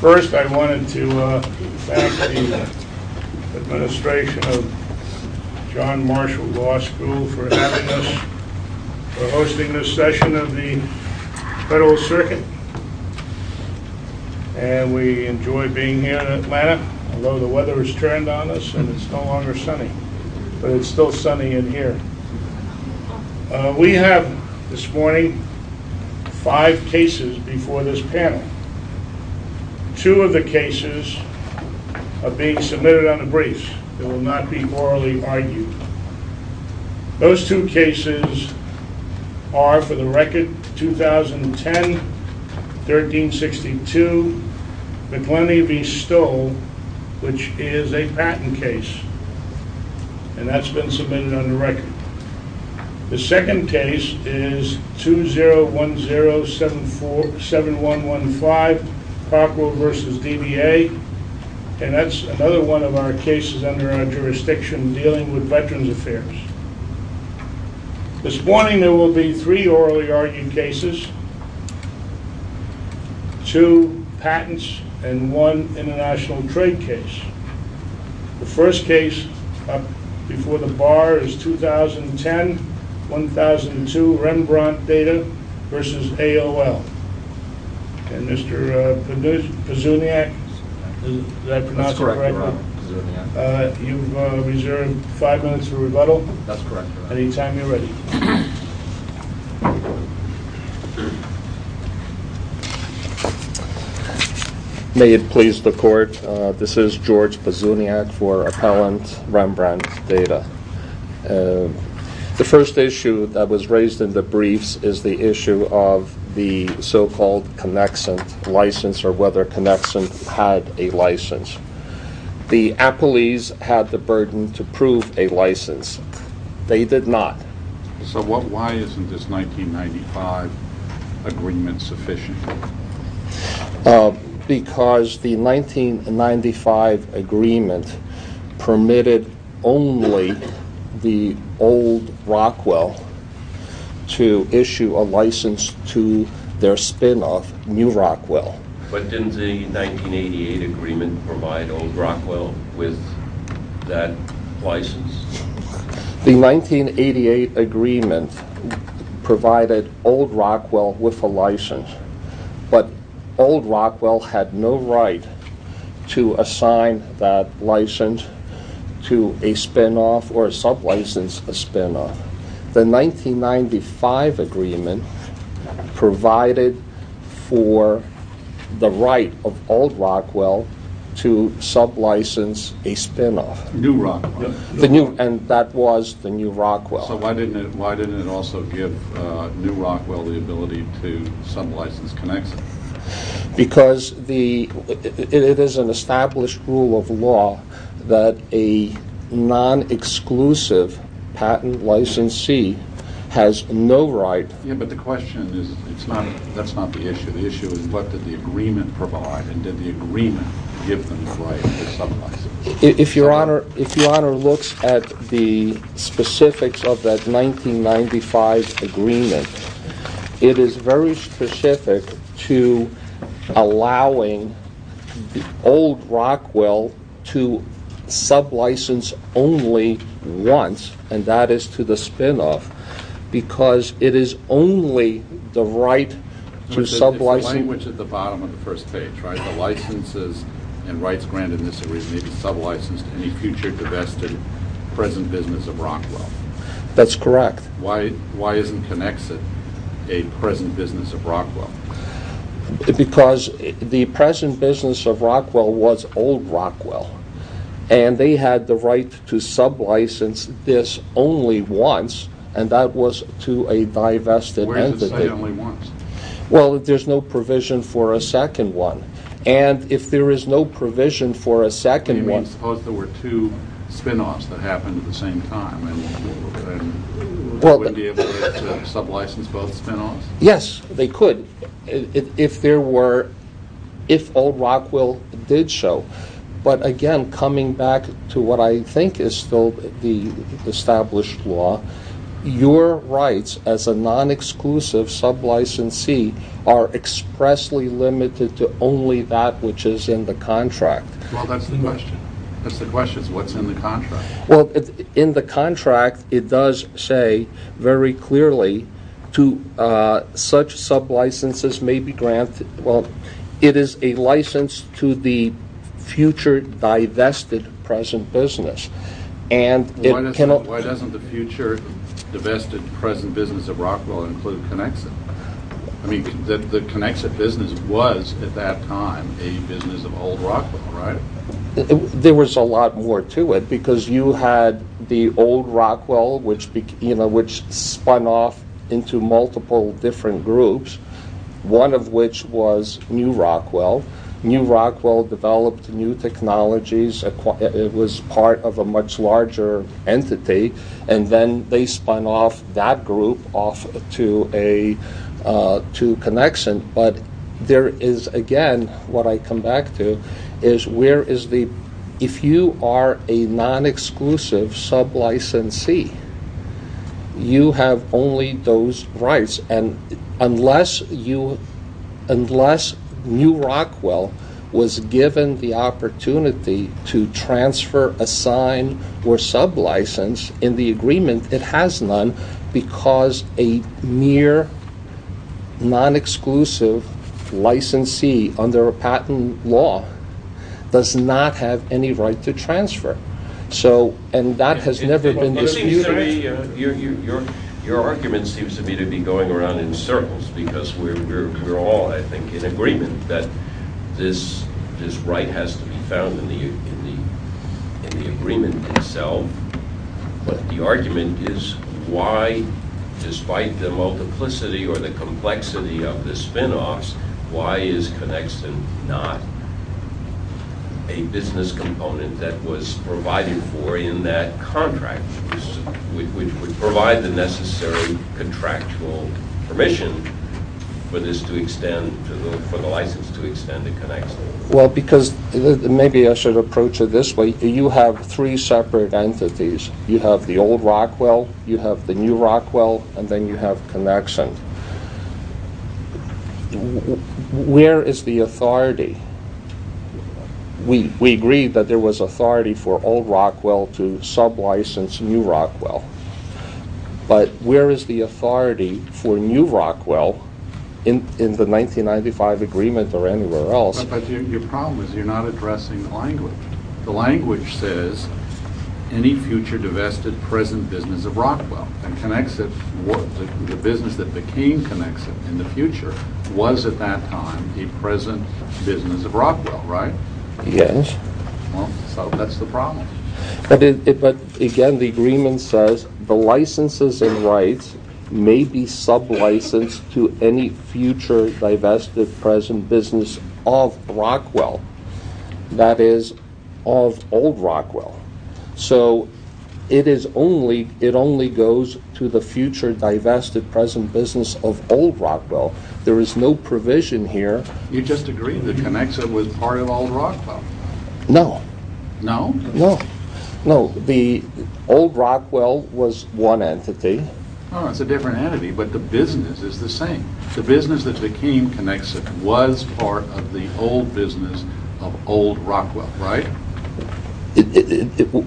First, I wanted to thank the administration of John Marshall Law School for having us for hosting this session of the Federal Circuit, and we enjoy being here in Atlanta, although the weather has turned on us and it's no longer sunny, but it's still sunny in here. We have this morning five cases before this panel. Two of the cases are being submitted on the briefs. They will not be orally argued. Those two cases are for the record 2010-1362 McLennie v. Stoll, which is a patent case, and that's been submitted on the record. The second case is 2010-7115 Cockrell v. DBA, and that's another one of our cases under our jurisdiction dealing with Veterans Affairs. This morning there will be three orally argued cases, two patents, and one international trade case. The first case up before the bar is 2010-1002 Rembrandt Data v. AOL. And Mr. Pizzuniac, did I pronounce it correctly? That's correct, Your Honor. You've reserved five minutes for rebuttal. That's correct, Your Honor. Anytime you're ready. May it please the Court, this is George Pizzuniac for Appellant Rembrandt Data. The first issue that was raised in the briefs is the issue of the so-called Connexent license or whether Connexent had a license. The appellees had the burden to prove a license. They did not. So why isn't this 1995 agreement sufficient? Because the 1995 agreement permitted only the old Rockwell to issue a license to their spin-off, new Rockwell. But didn't the 1988 agreement provide old Rockwell with that license? The 1988 agreement provided old Rockwell with a license, but old Rockwell had no right to assign that license to a spin-off or sub-license a spin-off. The 1995 agreement provided for the right of old Rockwell to sub-license a spin-off. New Rockwell. And that was the new Rockwell. So why didn't it also give new Rockwell the ability to sub-license Connexent? Because it is an established rule of law that a non-exclusive patent licensee has no right. Yeah, but the question is, that's not the issue. The issue is what did the agreement provide and did the agreement give them the right to sub-license? If Your Honor looks at the specifics of that 1995 agreement, it is very specific to allowing old Rockwell to sub-license only once, and that is to the spin-off, because it is only the right to sub-license. The language at the bottom of the first page, the licenses and rights granted in this agreement may be sub-licensed to any future divested present business of Rockwell. That's correct. Why isn't Connexent a present business of Rockwell? Because the present business of Rockwell was old Rockwell, and they had the right to sub-license this only once, and that was to a divested entity. Where does it say only once? Well, there's no provision for a second one, and if there is no provision for a second one... Suppose there were two spin-offs that happened at the same time, and they wouldn't be able to sub-license both spin-offs? Yes, they could, if there were, if old Rockwell did so. But again, coming back to what I think is still the established law, your rights as a non-exclusive sub-licensee are expressly limited to only that which is in the contract. Well, that's the question. The question is what's in the contract. Well, in the contract it does say very clearly to such sub-licenses may be granted, well, it is a license to the future divested present business. Why doesn't the future divested present business of Rockwell include Connexent? I mean, the Connexent business was at that time a business of old Rockwell, right? There was a lot more to it, because you had the old Rockwell, which spun off into multiple different groups, one of which was new Rockwell. New Rockwell developed new technologies, it was part of a much larger entity, and then they spun off that group off to Connexent. But there is, again, what I come back to is where is the, if you are a non-exclusive sub-licensee, you have only those rights. And unless new Rockwell was given the opportunity to transfer a sign or sub-license in the agreement, it has none, because a mere non-exclusive licensee under a patent law does not have any right to transfer. And that has never been disputed. Your argument seems to me to be going around in circles, because we're all, I think, in agreement that this right has to be found in the agreement itself. But the argument is why, despite the multiplicity or the complexity of the spinoffs, why is Connexent not a business component that was provided for in that contract, which would provide the necessary contractual permission for this to extend, for the license to extend to Connexent? Well, because, maybe I should approach it this way, you have three separate entities. You have the old Rockwell, you have the new Rockwell, and then you have Connexent. Where is the authority? We agreed that there was authority for old Rockwell to sub-license new Rockwell. But where is the authority for new Rockwell in the 1995 agreement or anywhere else? But your problem is you're not addressing the language. The language says, any future divested present business of Rockwell, and Connexent, the business that became Connexent in the future, was at that time a present business of Rockwell, right? Yes. Well, so that's the problem. But, again, the agreement says the licenses and rights may be sub-licensed to any future divested present business of Rockwell, that is, of old Rockwell. So, it only goes to the future divested present business of old Rockwell. There is no provision here. You just agreed that Connexent was part of old Rockwell. No. No? No. No, the old Rockwell was one entity. Oh, it's a different entity, but the business is the same. The business that became Connexent was part of the old business of old Rockwell, right?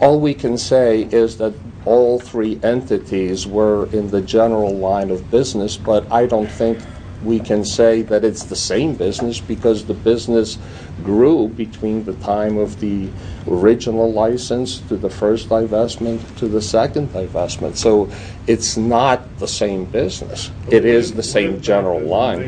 All we can say is that all three entities were in the general line of business, but I don't think we can say that it's the same business because the business grew between the time of the original license to the first divestment to the second divestment. So, it's not the same business. It is the same general line.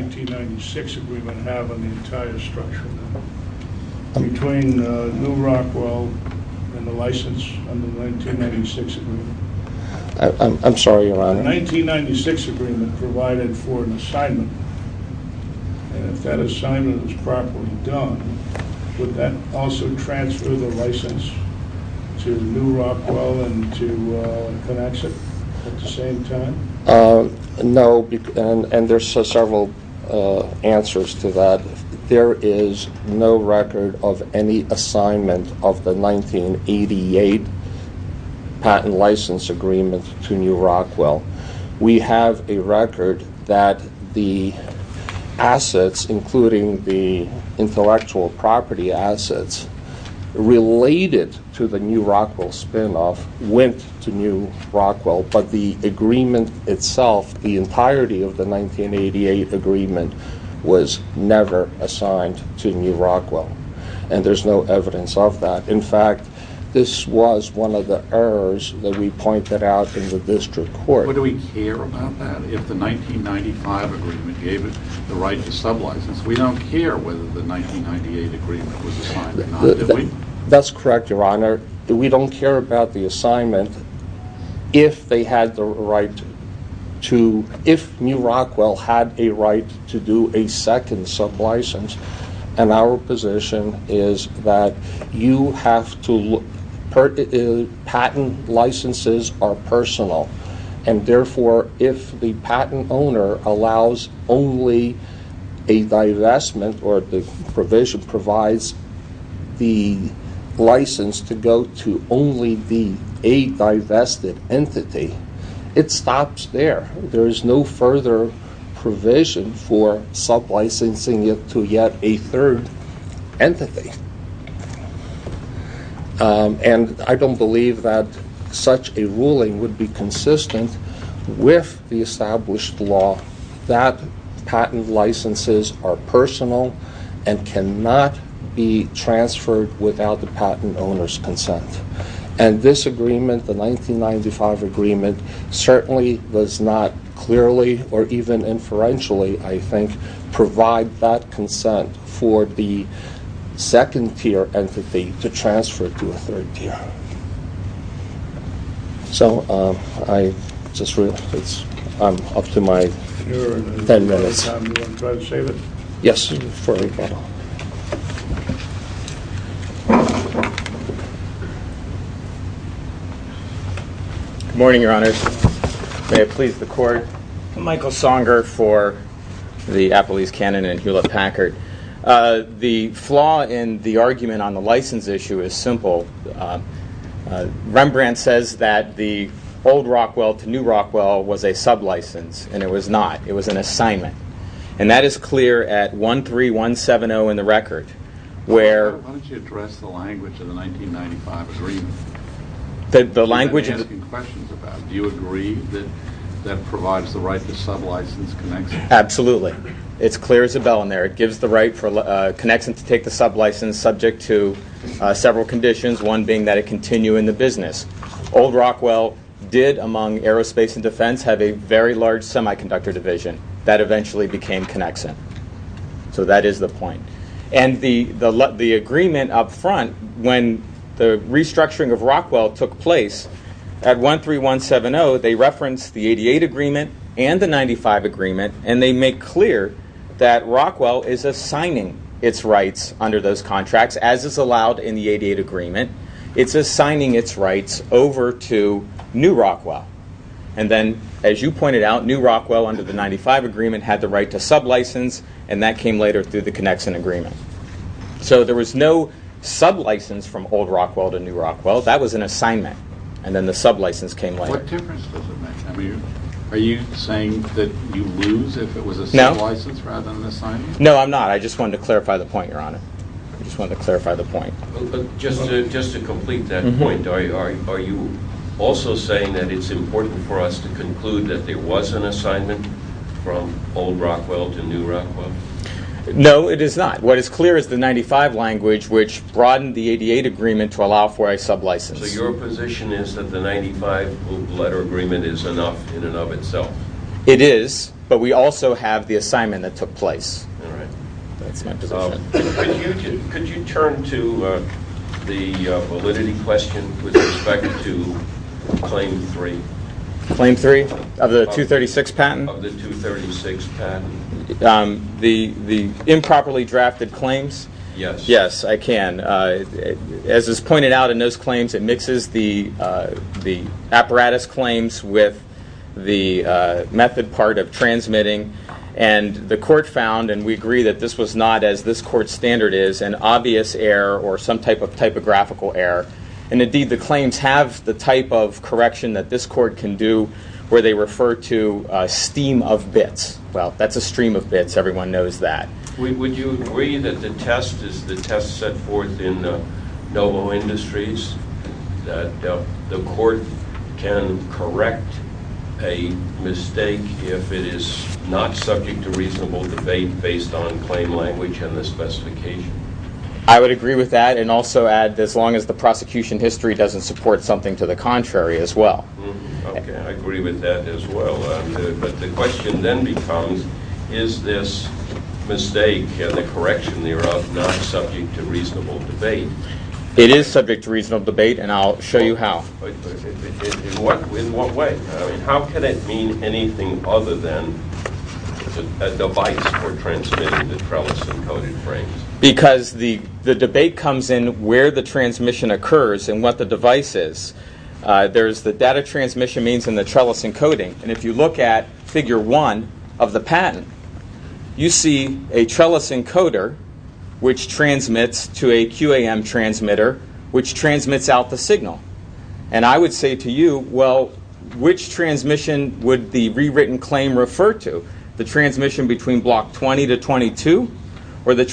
I'm sorry, Your Honor. The 1996 agreement provided for an assignment, and if that assignment was properly done, would that also transfer the license to new Rockwell and to Connexent at the same time? No, and there are several answers to that. There is no record of any assignment of the 1988 patent license agreement to new Rockwell. We have a record that the assets, including the intellectual property assets, related to the new Rockwell spinoff went to new Rockwell, but the agreement itself, the entirety of the 1988 agreement, was never assigned to new Rockwell, and there's no evidence of that. In fact, this was one of the errors that we pointed out in the district court. But do we care about that? If the 1995 agreement gave it the right to sublicense, we don't care whether the 1998 agreement was assigned or not, do we? That's correct, Your Honor. We don't care about the assignment. If new Rockwell had a right to do a second sublicense, and our position is that patent licenses are personal, and therefore if the patent owner allows only a divestment or the provision provides the license to go to only the a-divested entity, it stops there. There is no further provision for sublicensing it to yet a third entity. And I don't believe that such a ruling would be consistent with the established law that patent licenses are personal and cannot be transferred without the patent owner's consent. And this agreement, the 1995 agreement, certainly does not clearly or even inferentially, I think, provide that consent for the second tier entity to transfer to a third tier. So I just realize I'm up to my ten minutes. Your Honor, if you don't have any more time, do you want to try to save it? Yes, Your Honor. Good morning, Your Honor. May it please the Court. I'm Michael Songer for the Appelese-Cannon and Hewlett-Packard. The flaw in the argument on the license issue is simple. Rembrandt says that the old Rockwell to new Rockwell was a sublicense, and it was not. It was an assignment. And that is clear at 13170 in the record. Why don't you address the language of the 1995 agreement? The language is... You've been asking questions about it. Do you agree that that provides the right to sublicense connection? Absolutely. It's clear as a bell in there. It gives the right for connection to take the sublicense subject to several conditions, one being that it continue in the business. Old Rockwell did, among aerospace and defense, have a very large semiconductor division that eventually became connection. So that is the point. And the agreement up front, when the restructuring of Rockwell took place at 13170, they referenced the 88 agreement and the 95 agreement, and they make clear that Rockwell is assigning its rights under those contracts as is allowed in the 88 agreement. It's assigning its rights over to new Rockwell. And then, as you pointed out, new Rockwell under the 95 agreement had the right to sublicense, and that came later through the connection agreement. So there was no sublicense from old Rockwell to new Rockwell. That was an assignment, and then the sublicense came later. What difference does it make? Are you saying that you lose if it was a sublicense rather than an assignment? No, I'm not. I just wanted to clarify the point, Your Honor. I just wanted to clarify the point. Just to complete that point, are you also saying that it's important for us to conclude that there was an assignment from old Rockwell to new Rockwell? No, it is not. What is clear is the 95 language, which broadened the 88 agreement to allow for a sublicense. So your position is that the 95-letter agreement is enough in and of itself? It is, but we also have the assignment that took place. All right. That's my position. Could you turn to the validity question with respect to Claim 3? Claim 3 of the 236 patent? Of the 236 patent. The improperly drafted claims? Yes. Yes, I can. As is pointed out in those claims, it mixes the apparatus claims with the method part of transmitting, and the court found, and we agree that this was not, as this court's standard is, an obvious error or some type of typographical error. And, indeed, the claims have the type of correction that this court can do where they refer to a steam of bits. Well, that's a stream of bits. Everyone knows that. Would you agree that the test is the test set forth in the Dovo Industries, that the court can correct a mistake if it is not subject to reasonable debate based on claim language and the specification? I would agree with that and also add, as long as the prosecution history doesn't support something to the contrary as well. Okay. I agree with that as well. But the question then becomes, is this mistake, the correction thereof, not subject to reasonable debate? It is subject to reasonable debate, and I'll show you how. In what way? How can it mean anything other than a device for transmitting the trellis-encoded frames? Because the debate comes in where the transmission occurs and what the device is. There's the data transmission means and the trellis encoding. And if you look at Figure 1 of the patent, you see a trellis encoder, which transmits to a QAM transmitter, which transmits out the signal. And I would say to you, well, which transmission would the rewritten claim refer to? The transmission between Block 20 to 22 or the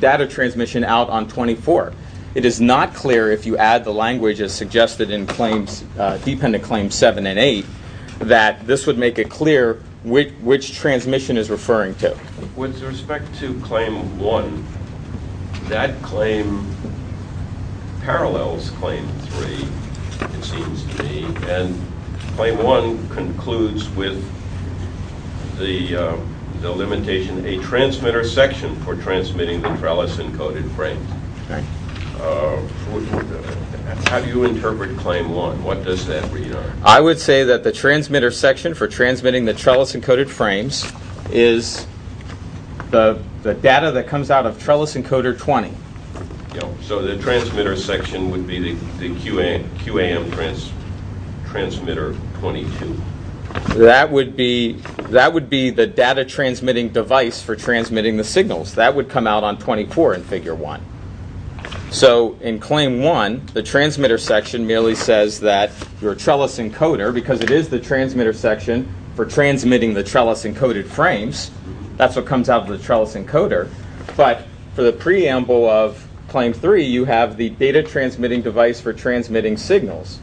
data transmission out on 24? It is not clear if you add the language as suggested in claims, dependent claims 7 and 8, that this would make it clear which transmission is referring to. With respect to Claim 1, that claim parallels Claim 3, it seems to me. And Claim 1 concludes with the limitation, a transmitter section for transmitting the trellis-encoded frames. How do you interpret Claim 1? What does that read? I would say that the transmitter section for transmitting the trellis-encoded frames is the data that comes out of trellis encoder 20. So the transmitter section would be the QAM transmitter 22? That would be the data transmitting device for transmitting the signals. That would come out on 24 in Figure 1. So in Claim 1, the transmitter section merely says that your trellis encoder, because it is the transmitter section for transmitting the trellis-encoded frames, that's what comes out of the trellis encoder. But for the preamble of Claim 3, you have the data transmitting device for transmitting signals.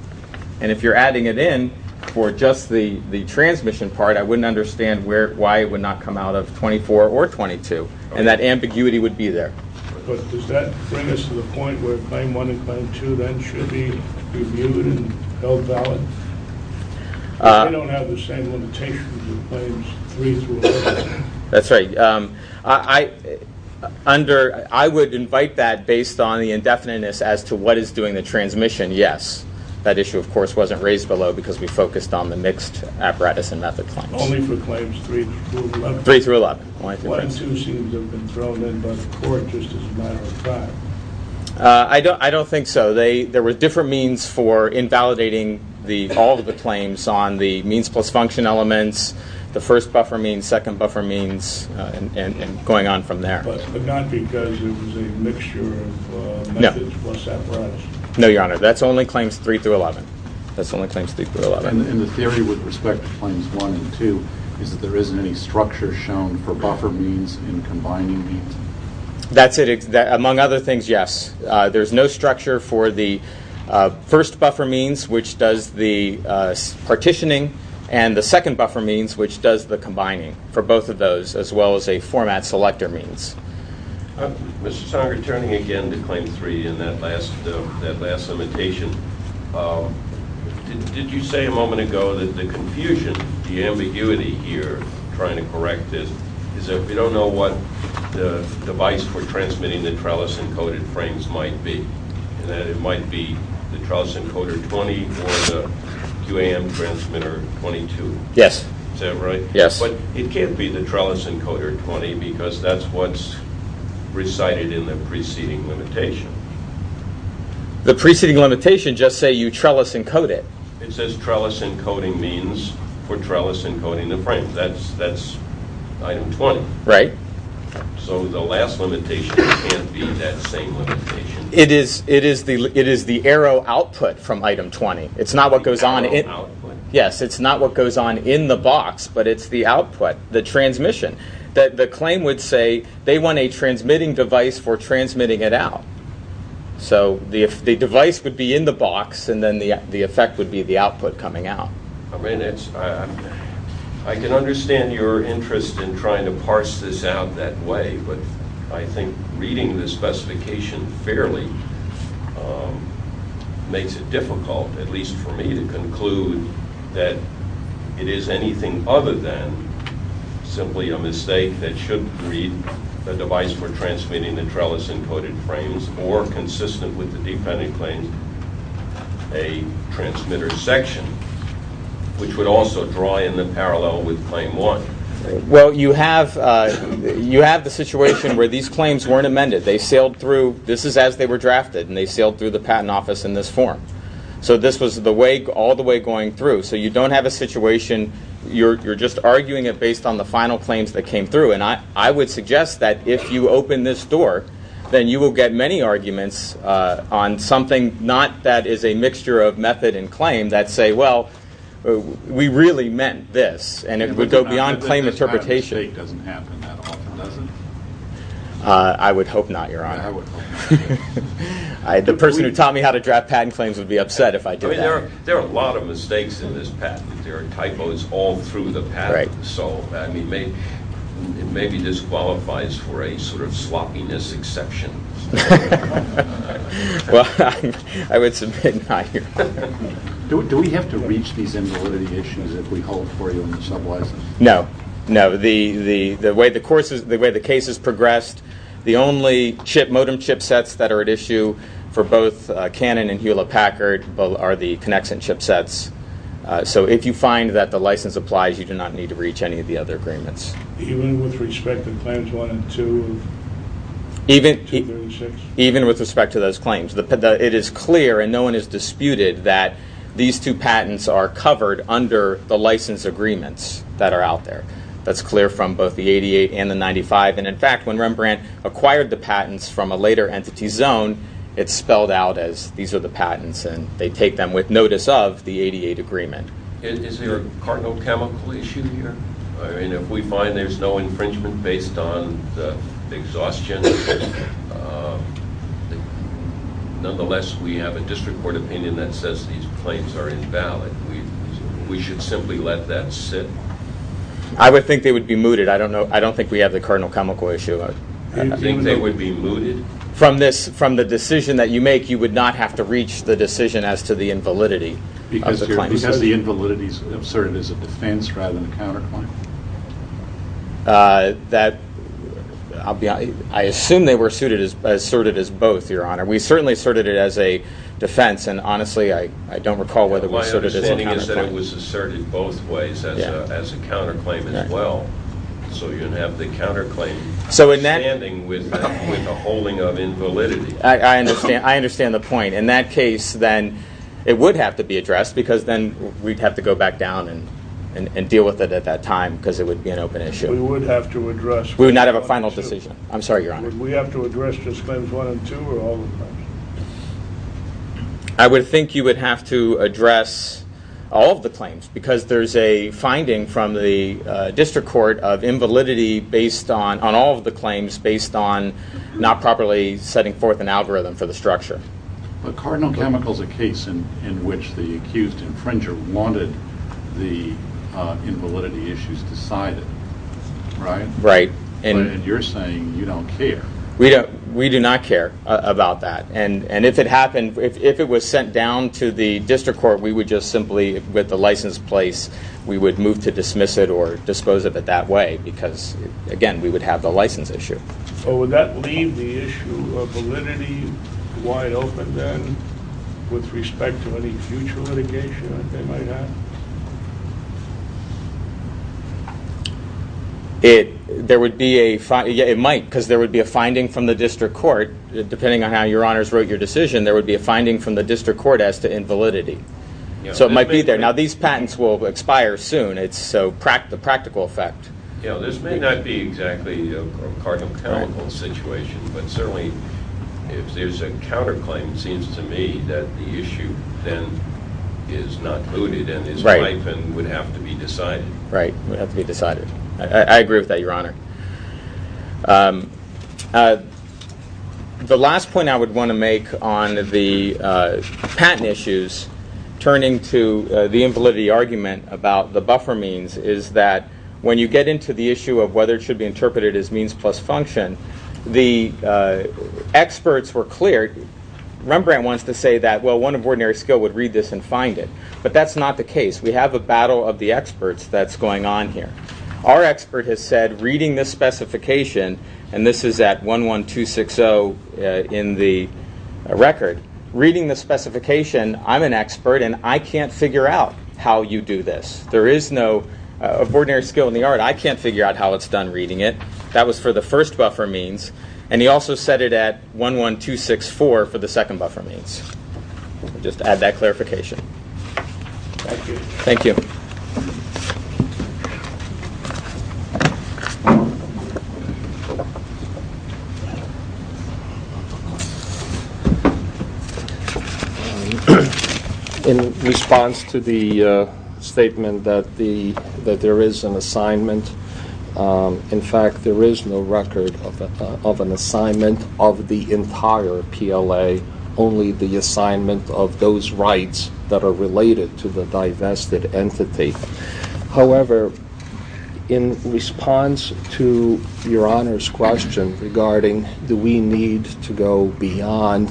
And if you're adding it in for just the transmission part, I wouldn't understand why it would not come out of 24 or 22. And that ambiguity would be there. But does that bring us to the point where Claim 1 and Claim 2 then should be reviewed and held valid? Because they don't have the same limitations as Claims 3 through 11. That's right. I would invite that based on the indefiniteness as to what is doing the transmission, yes. That issue, of course, wasn't raised below because we focused on the mixed apparatus and method claims. Only for Claims 3 through 11? 3 through 11. 1 and 2 seem to have been thrown in by the court just as a matter of fact. I don't think so. There were different means for invalidating all of the claims on the means plus function elements, the first buffer means, second buffer means, and going on from there. But not because it was a mixture of methods plus apparatus? No, Your Honor. That's only Claims 3 through 11. That's only Claims 3 through 11. And the theory with respect to Claims 1 and 2 is that there isn't any structure shown for buffer means and combining means? That's it. Among other things, yes. There's no structure for the first buffer means, which does the partitioning, and the second buffer means, which does the combining for both of those as well as a format selector means. Mr. Sanger, turning again to Claim 3 and that last limitation, did you say a moment ago that the confusion, the ambiguity here, trying to correct this, is that we don't know what the device for transmitting the trellis encoded frames might be, and that it might be the trellis encoder 20 or the QAM transmitter 22? Yes. Is that right? Yes. But it can't be the trellis encoder 20 because that's what's recited in the preceding limitation. The preceding limitation just say you trellis encode it. It says trellis encoding means for trellis encoding the frame. That's item 20. Right. So the last limitation can't be that same limitation. It is the arrow output from item 20. It's not what goes on in the box, but it's the output, the transmission. The claim would say they want a transmitting device for transmitting it out. So the device would be in the box, and then the effect would be the output coming out. I can understand your interest in trying to parse this out that way, but I think reading the specification fairly makes it difficult, at least for me, to conclude that it is anything other than simply a mistake that should read the device for transmitting the trellis encoded frames or consistent with the defendant claims a transmitter section, which would also draw in the parallel with claim one. Well, you have the situation where these claims weren't amended. They sailed through. This is as they were drafted, and they sailed through the patent office in this form. So this was all the way going through. So you don't have a situation. You're just arguing it based on the final claims that came through. And I would suggest that if you open this door, then you will get many arguments on something not that is a mixture of method and claim that say, well, we really meant this, and it would go beyond claim interpretation. I don't think this kind of mistake doesn't happen that often, does it? I would hope not, Your Honor. I would hope not. The person who taught me how to draft patent claims would be upset if I did that. I mean, there are a lot of mistakes in this patent. There are typos all through the patent. So, I mean, maybe this qualifies for a sort of sloppiness exception. Well, I would submit not, Your Honor. Do we have to reach these invalidations that we hold for you in the sublicense? No, no. The way the case has progressed, the only modem chipsets that are at issue for both Cannon and Hewlett-Packard are the Connexin chipsets. So if you find that the license applies, you do not need to reach any of the other agreements. Even with respect to Claims 1 and 2? Even with respect to those claims. It is clear, and no one has disputed, that these two patents are covered under the license agreements that are out there. That's clear from both the 88 and the 95. And, in fact, when Rembrandt acquired the patents from a later entity zone, it's spelled out as these are the patents, and they take them with notice of the 88 agreement. Is there a cardinal chemical issue here? I mean, if we find there's no infringement based on the exhaustion, nonetheless we have a district court opinion that says these claims are invalid. We should simply let that sit? I would think they would be mooted. I don't think we have the cardinal chemical issue. Do you think they would be mooted? From the decision that you make, you would not have to reach the decision as to the invalidity of the claim. Because the invalidity is asserted as a defense rather than a counterclaim? I assume they were asserted as both, Your Honor. We certainly asserted it as a defense, and honestly I don't recall whether we asserted it as a counterclaim. My understanding is that it was asserted both ways as a counterclaim as well. So you'd have the counterclaim standing with a holding of invalidity. I understand the point. In that case then it would have to be addressed because then we'd have to go back down and deal with it at that time because it would be an open issue. We would have to address. We would not have a final decision. I'm sorry, Your Honor. Would we have to address just claims one and two or all of them? I would think you would have to address all of the claims because there's a finding from the district court of invalidity based on all of the claims based on not properly setting forth an algorithm for the structure. But Cardinal Chemical is a case in which the accused infringer wanted the invalidity issues decided, right? Right. And you're saying you don't care. We do not care about that. And if it happened, if it was sent down to the district court, we would just simply, with the license in place, we would move to dismiss it or dispose of it that way because, again, we would have the license issue. Would that leave the issue of validity wide open then with respect to any future litigation that they might have? There would be a finding. It might because there would be a finding from the district court that depending on how Your Honors wrote your decision, there would be a finding from the district court as to invalidity. So it might be there. Now, these patents will expire soon. It's a practical effect. This may not be exactly a Cardinal Chemical situation, but certainly if there's a counterclaim, it seems to me that the issue then is not looted and is wiped and would have to be decided. Right, would have to be decided. I agree with that, Your Honor. The last point I would want to make on the patent issues turning to the invalidity argument about the buffer means is that when you get into the issue of whether it should be interpreted as means plus function, the experts were clear. Rembrandt wants to say that, well, one of ordinary skill would read this and find it, but that's not the case. We have a battle of the experts that's going on here. Our expert has said, reading this specification, and this is at 11260 in the record, reading the specification, I'm an expert, and I can't figure out how you do this. There is no ordinary skill in the art. I can't figure out how it's done reading it. That was for the first buffer means, and he also said it at 11264 for the second buffer means. Just to add that clarification. Thank you. Thank you. In response to the statement that there is an assignment, in fact, there is no record of an assignment of the entire PLA, only the assignment of those rights that are related to the divested entity. However, in response to Your Honor's question regarding do we need to go beyond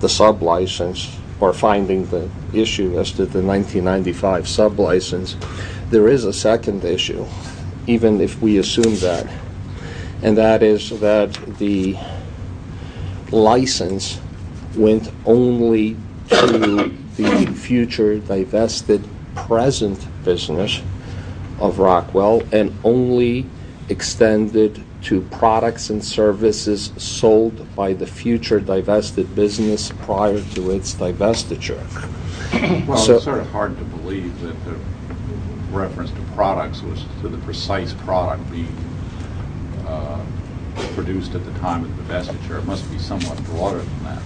the sublicense or finding the issue as to the 1995 sublicense, there is a second issue, even if we assume that, and that is that the license went only to the future divested present business of Rockwell and only extended to products and services sold by the future divested business prior to its divestiture. Well, it's sort of hard to believe that the reference to products was to the precise product being produced at the time of the divestiture. It must be somewhat broader than that.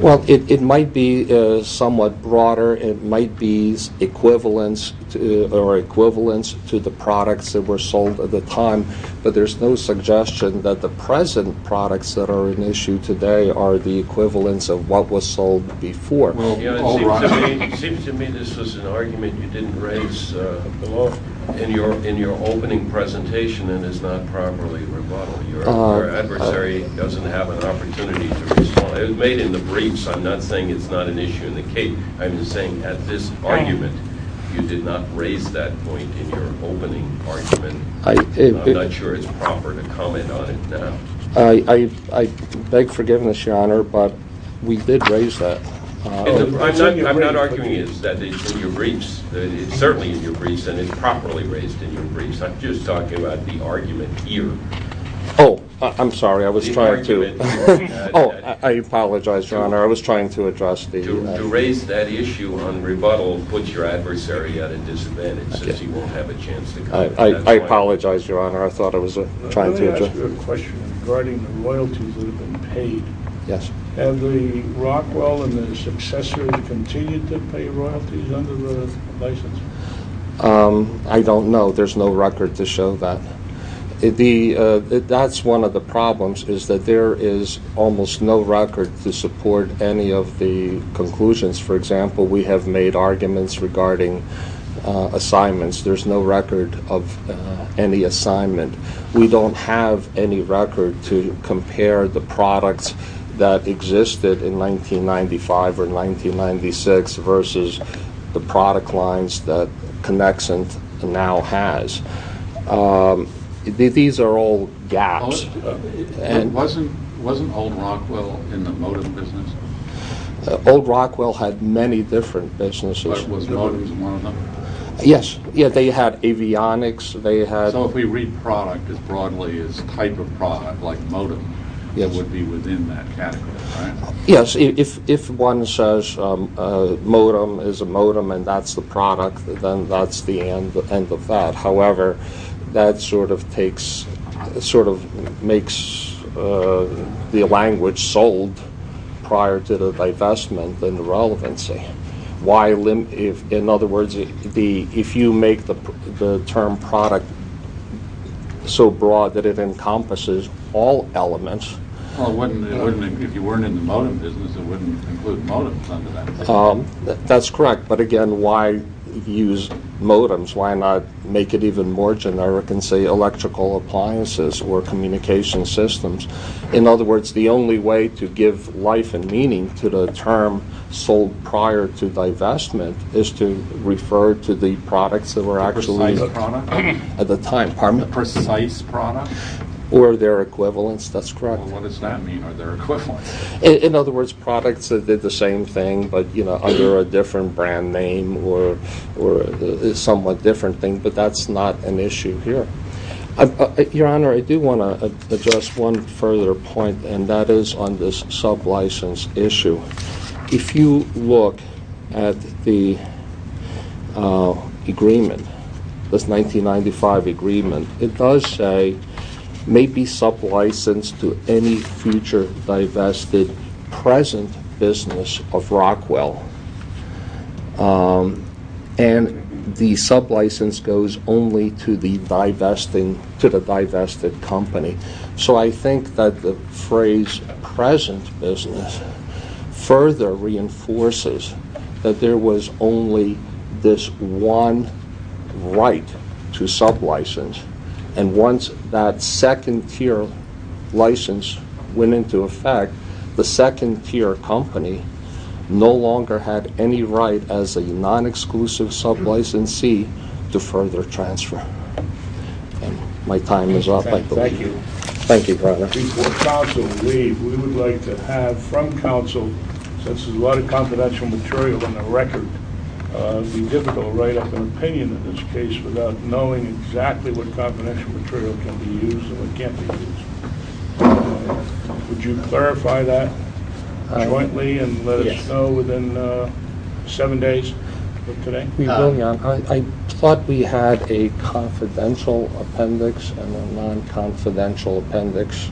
Well, it might be somewhat broader. It might be equivalence to the products that were sold at the time, but there's no suggestion that the present products that are in issue today are the equivalence of what was sold before. It seems to me this was an argument you didn't raise in your opening presentation and is not properly rebuttal. Your adversary doesn't have an opportunity to respond. It was made in the briefs. I'm not saying it's not an issue in the case. I'm just saying at this argument you did not raise that point in your opening argument. I'm not sure it's proper to comment on it now. I beg forgiveness, Your Honor, but we did raise that. I'm not arguing that it's in your briefs. It's certainly in your briefs and it's properly raised in your briefs. I'm just talking about the argument here. Oh, I'm sorry. I was trying to address that. To raise that issue on rebuttal puts your adversary at a disadvantage I apologize, Your Honor. I thought I was trying to address that. Let me ask you a question regarding the royalties that have been paid. Yes. Have the Rockwell and the successors continued to pay royalties under the license? I don't know. There's no record to show that. That's one of the problems is that there is almost no record to support any of the conclusions. For example, we have made arguments regarding assignments. There's no record of any assignment. We don't have any record to compare the products that existed in 1995 or 1996 versus the product lines that Connexent now has. These are all gaps. Wasn't Old Rockwell in the motive business? Old Rockwell had many different businesses. But was motive one of them? Yes. They had avionics. So if we read product as broadly as type of product, like modem, it would be within that category, right? Yes. If one says modem is a modem and that's the product, then that's the end of that. However, that sort of makes the language sold prior to the divestment in the relevancy. In other words, if you make the term product so broad that it encompasses all elements. If you weren't in the modem business, it wouldn't include modems under that. That's correct. But, again, why use modems? Why not make it even more generic and say electrical appliances or communication systems? In other words, the only way to give life and meaning to the term sold prior to divestment is to refer to the products that were actually at the time. Precise products? Or their equivalents. That's correct. What does that mean? Are there equivalents? In other words, products that did the same thing but under a different brand name or a somewhat different thing. But that's not an issue here. Your Honor, I do want to address one further point, and that is on this sublicense issue. If you look at the agreement, this 1995 agreement, it does say may be sublicensed to any future divested present business of Rockwell. And the sublicense goes only to the divested company. So I think that the phrase present business further reinforces that there was only this one right to sublicense. And once that second tier license went into effect, the second tier company no longer had any right as a non-exclusive sublicensee to further transfer. My time is up. Thank you. Thank you, Your Honor. Before counsel leaves, we would like to have from counsel, since there's a lot of confidential material on the record, it would be difficult to write up an opinion in this case without knowing exactly what confidential material can be used and what can't be used. Would you clarify that jointly and let us know within seven days of today? We will, Your Honor. I thought we had a confidential appendix and a non-confidential appendix.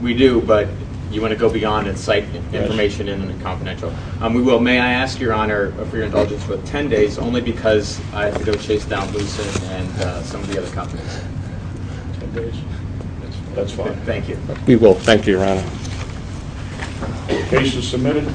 We do, but you want to go beyond and cite information in the confidential. We will. May I ask, Your Honor, for your indulgence for ten days, only because I have to go chase down Lucer and some of the other companies. Ten days. That's fine. Thank you. We will. Thank you, Your Honor. The case is submitted.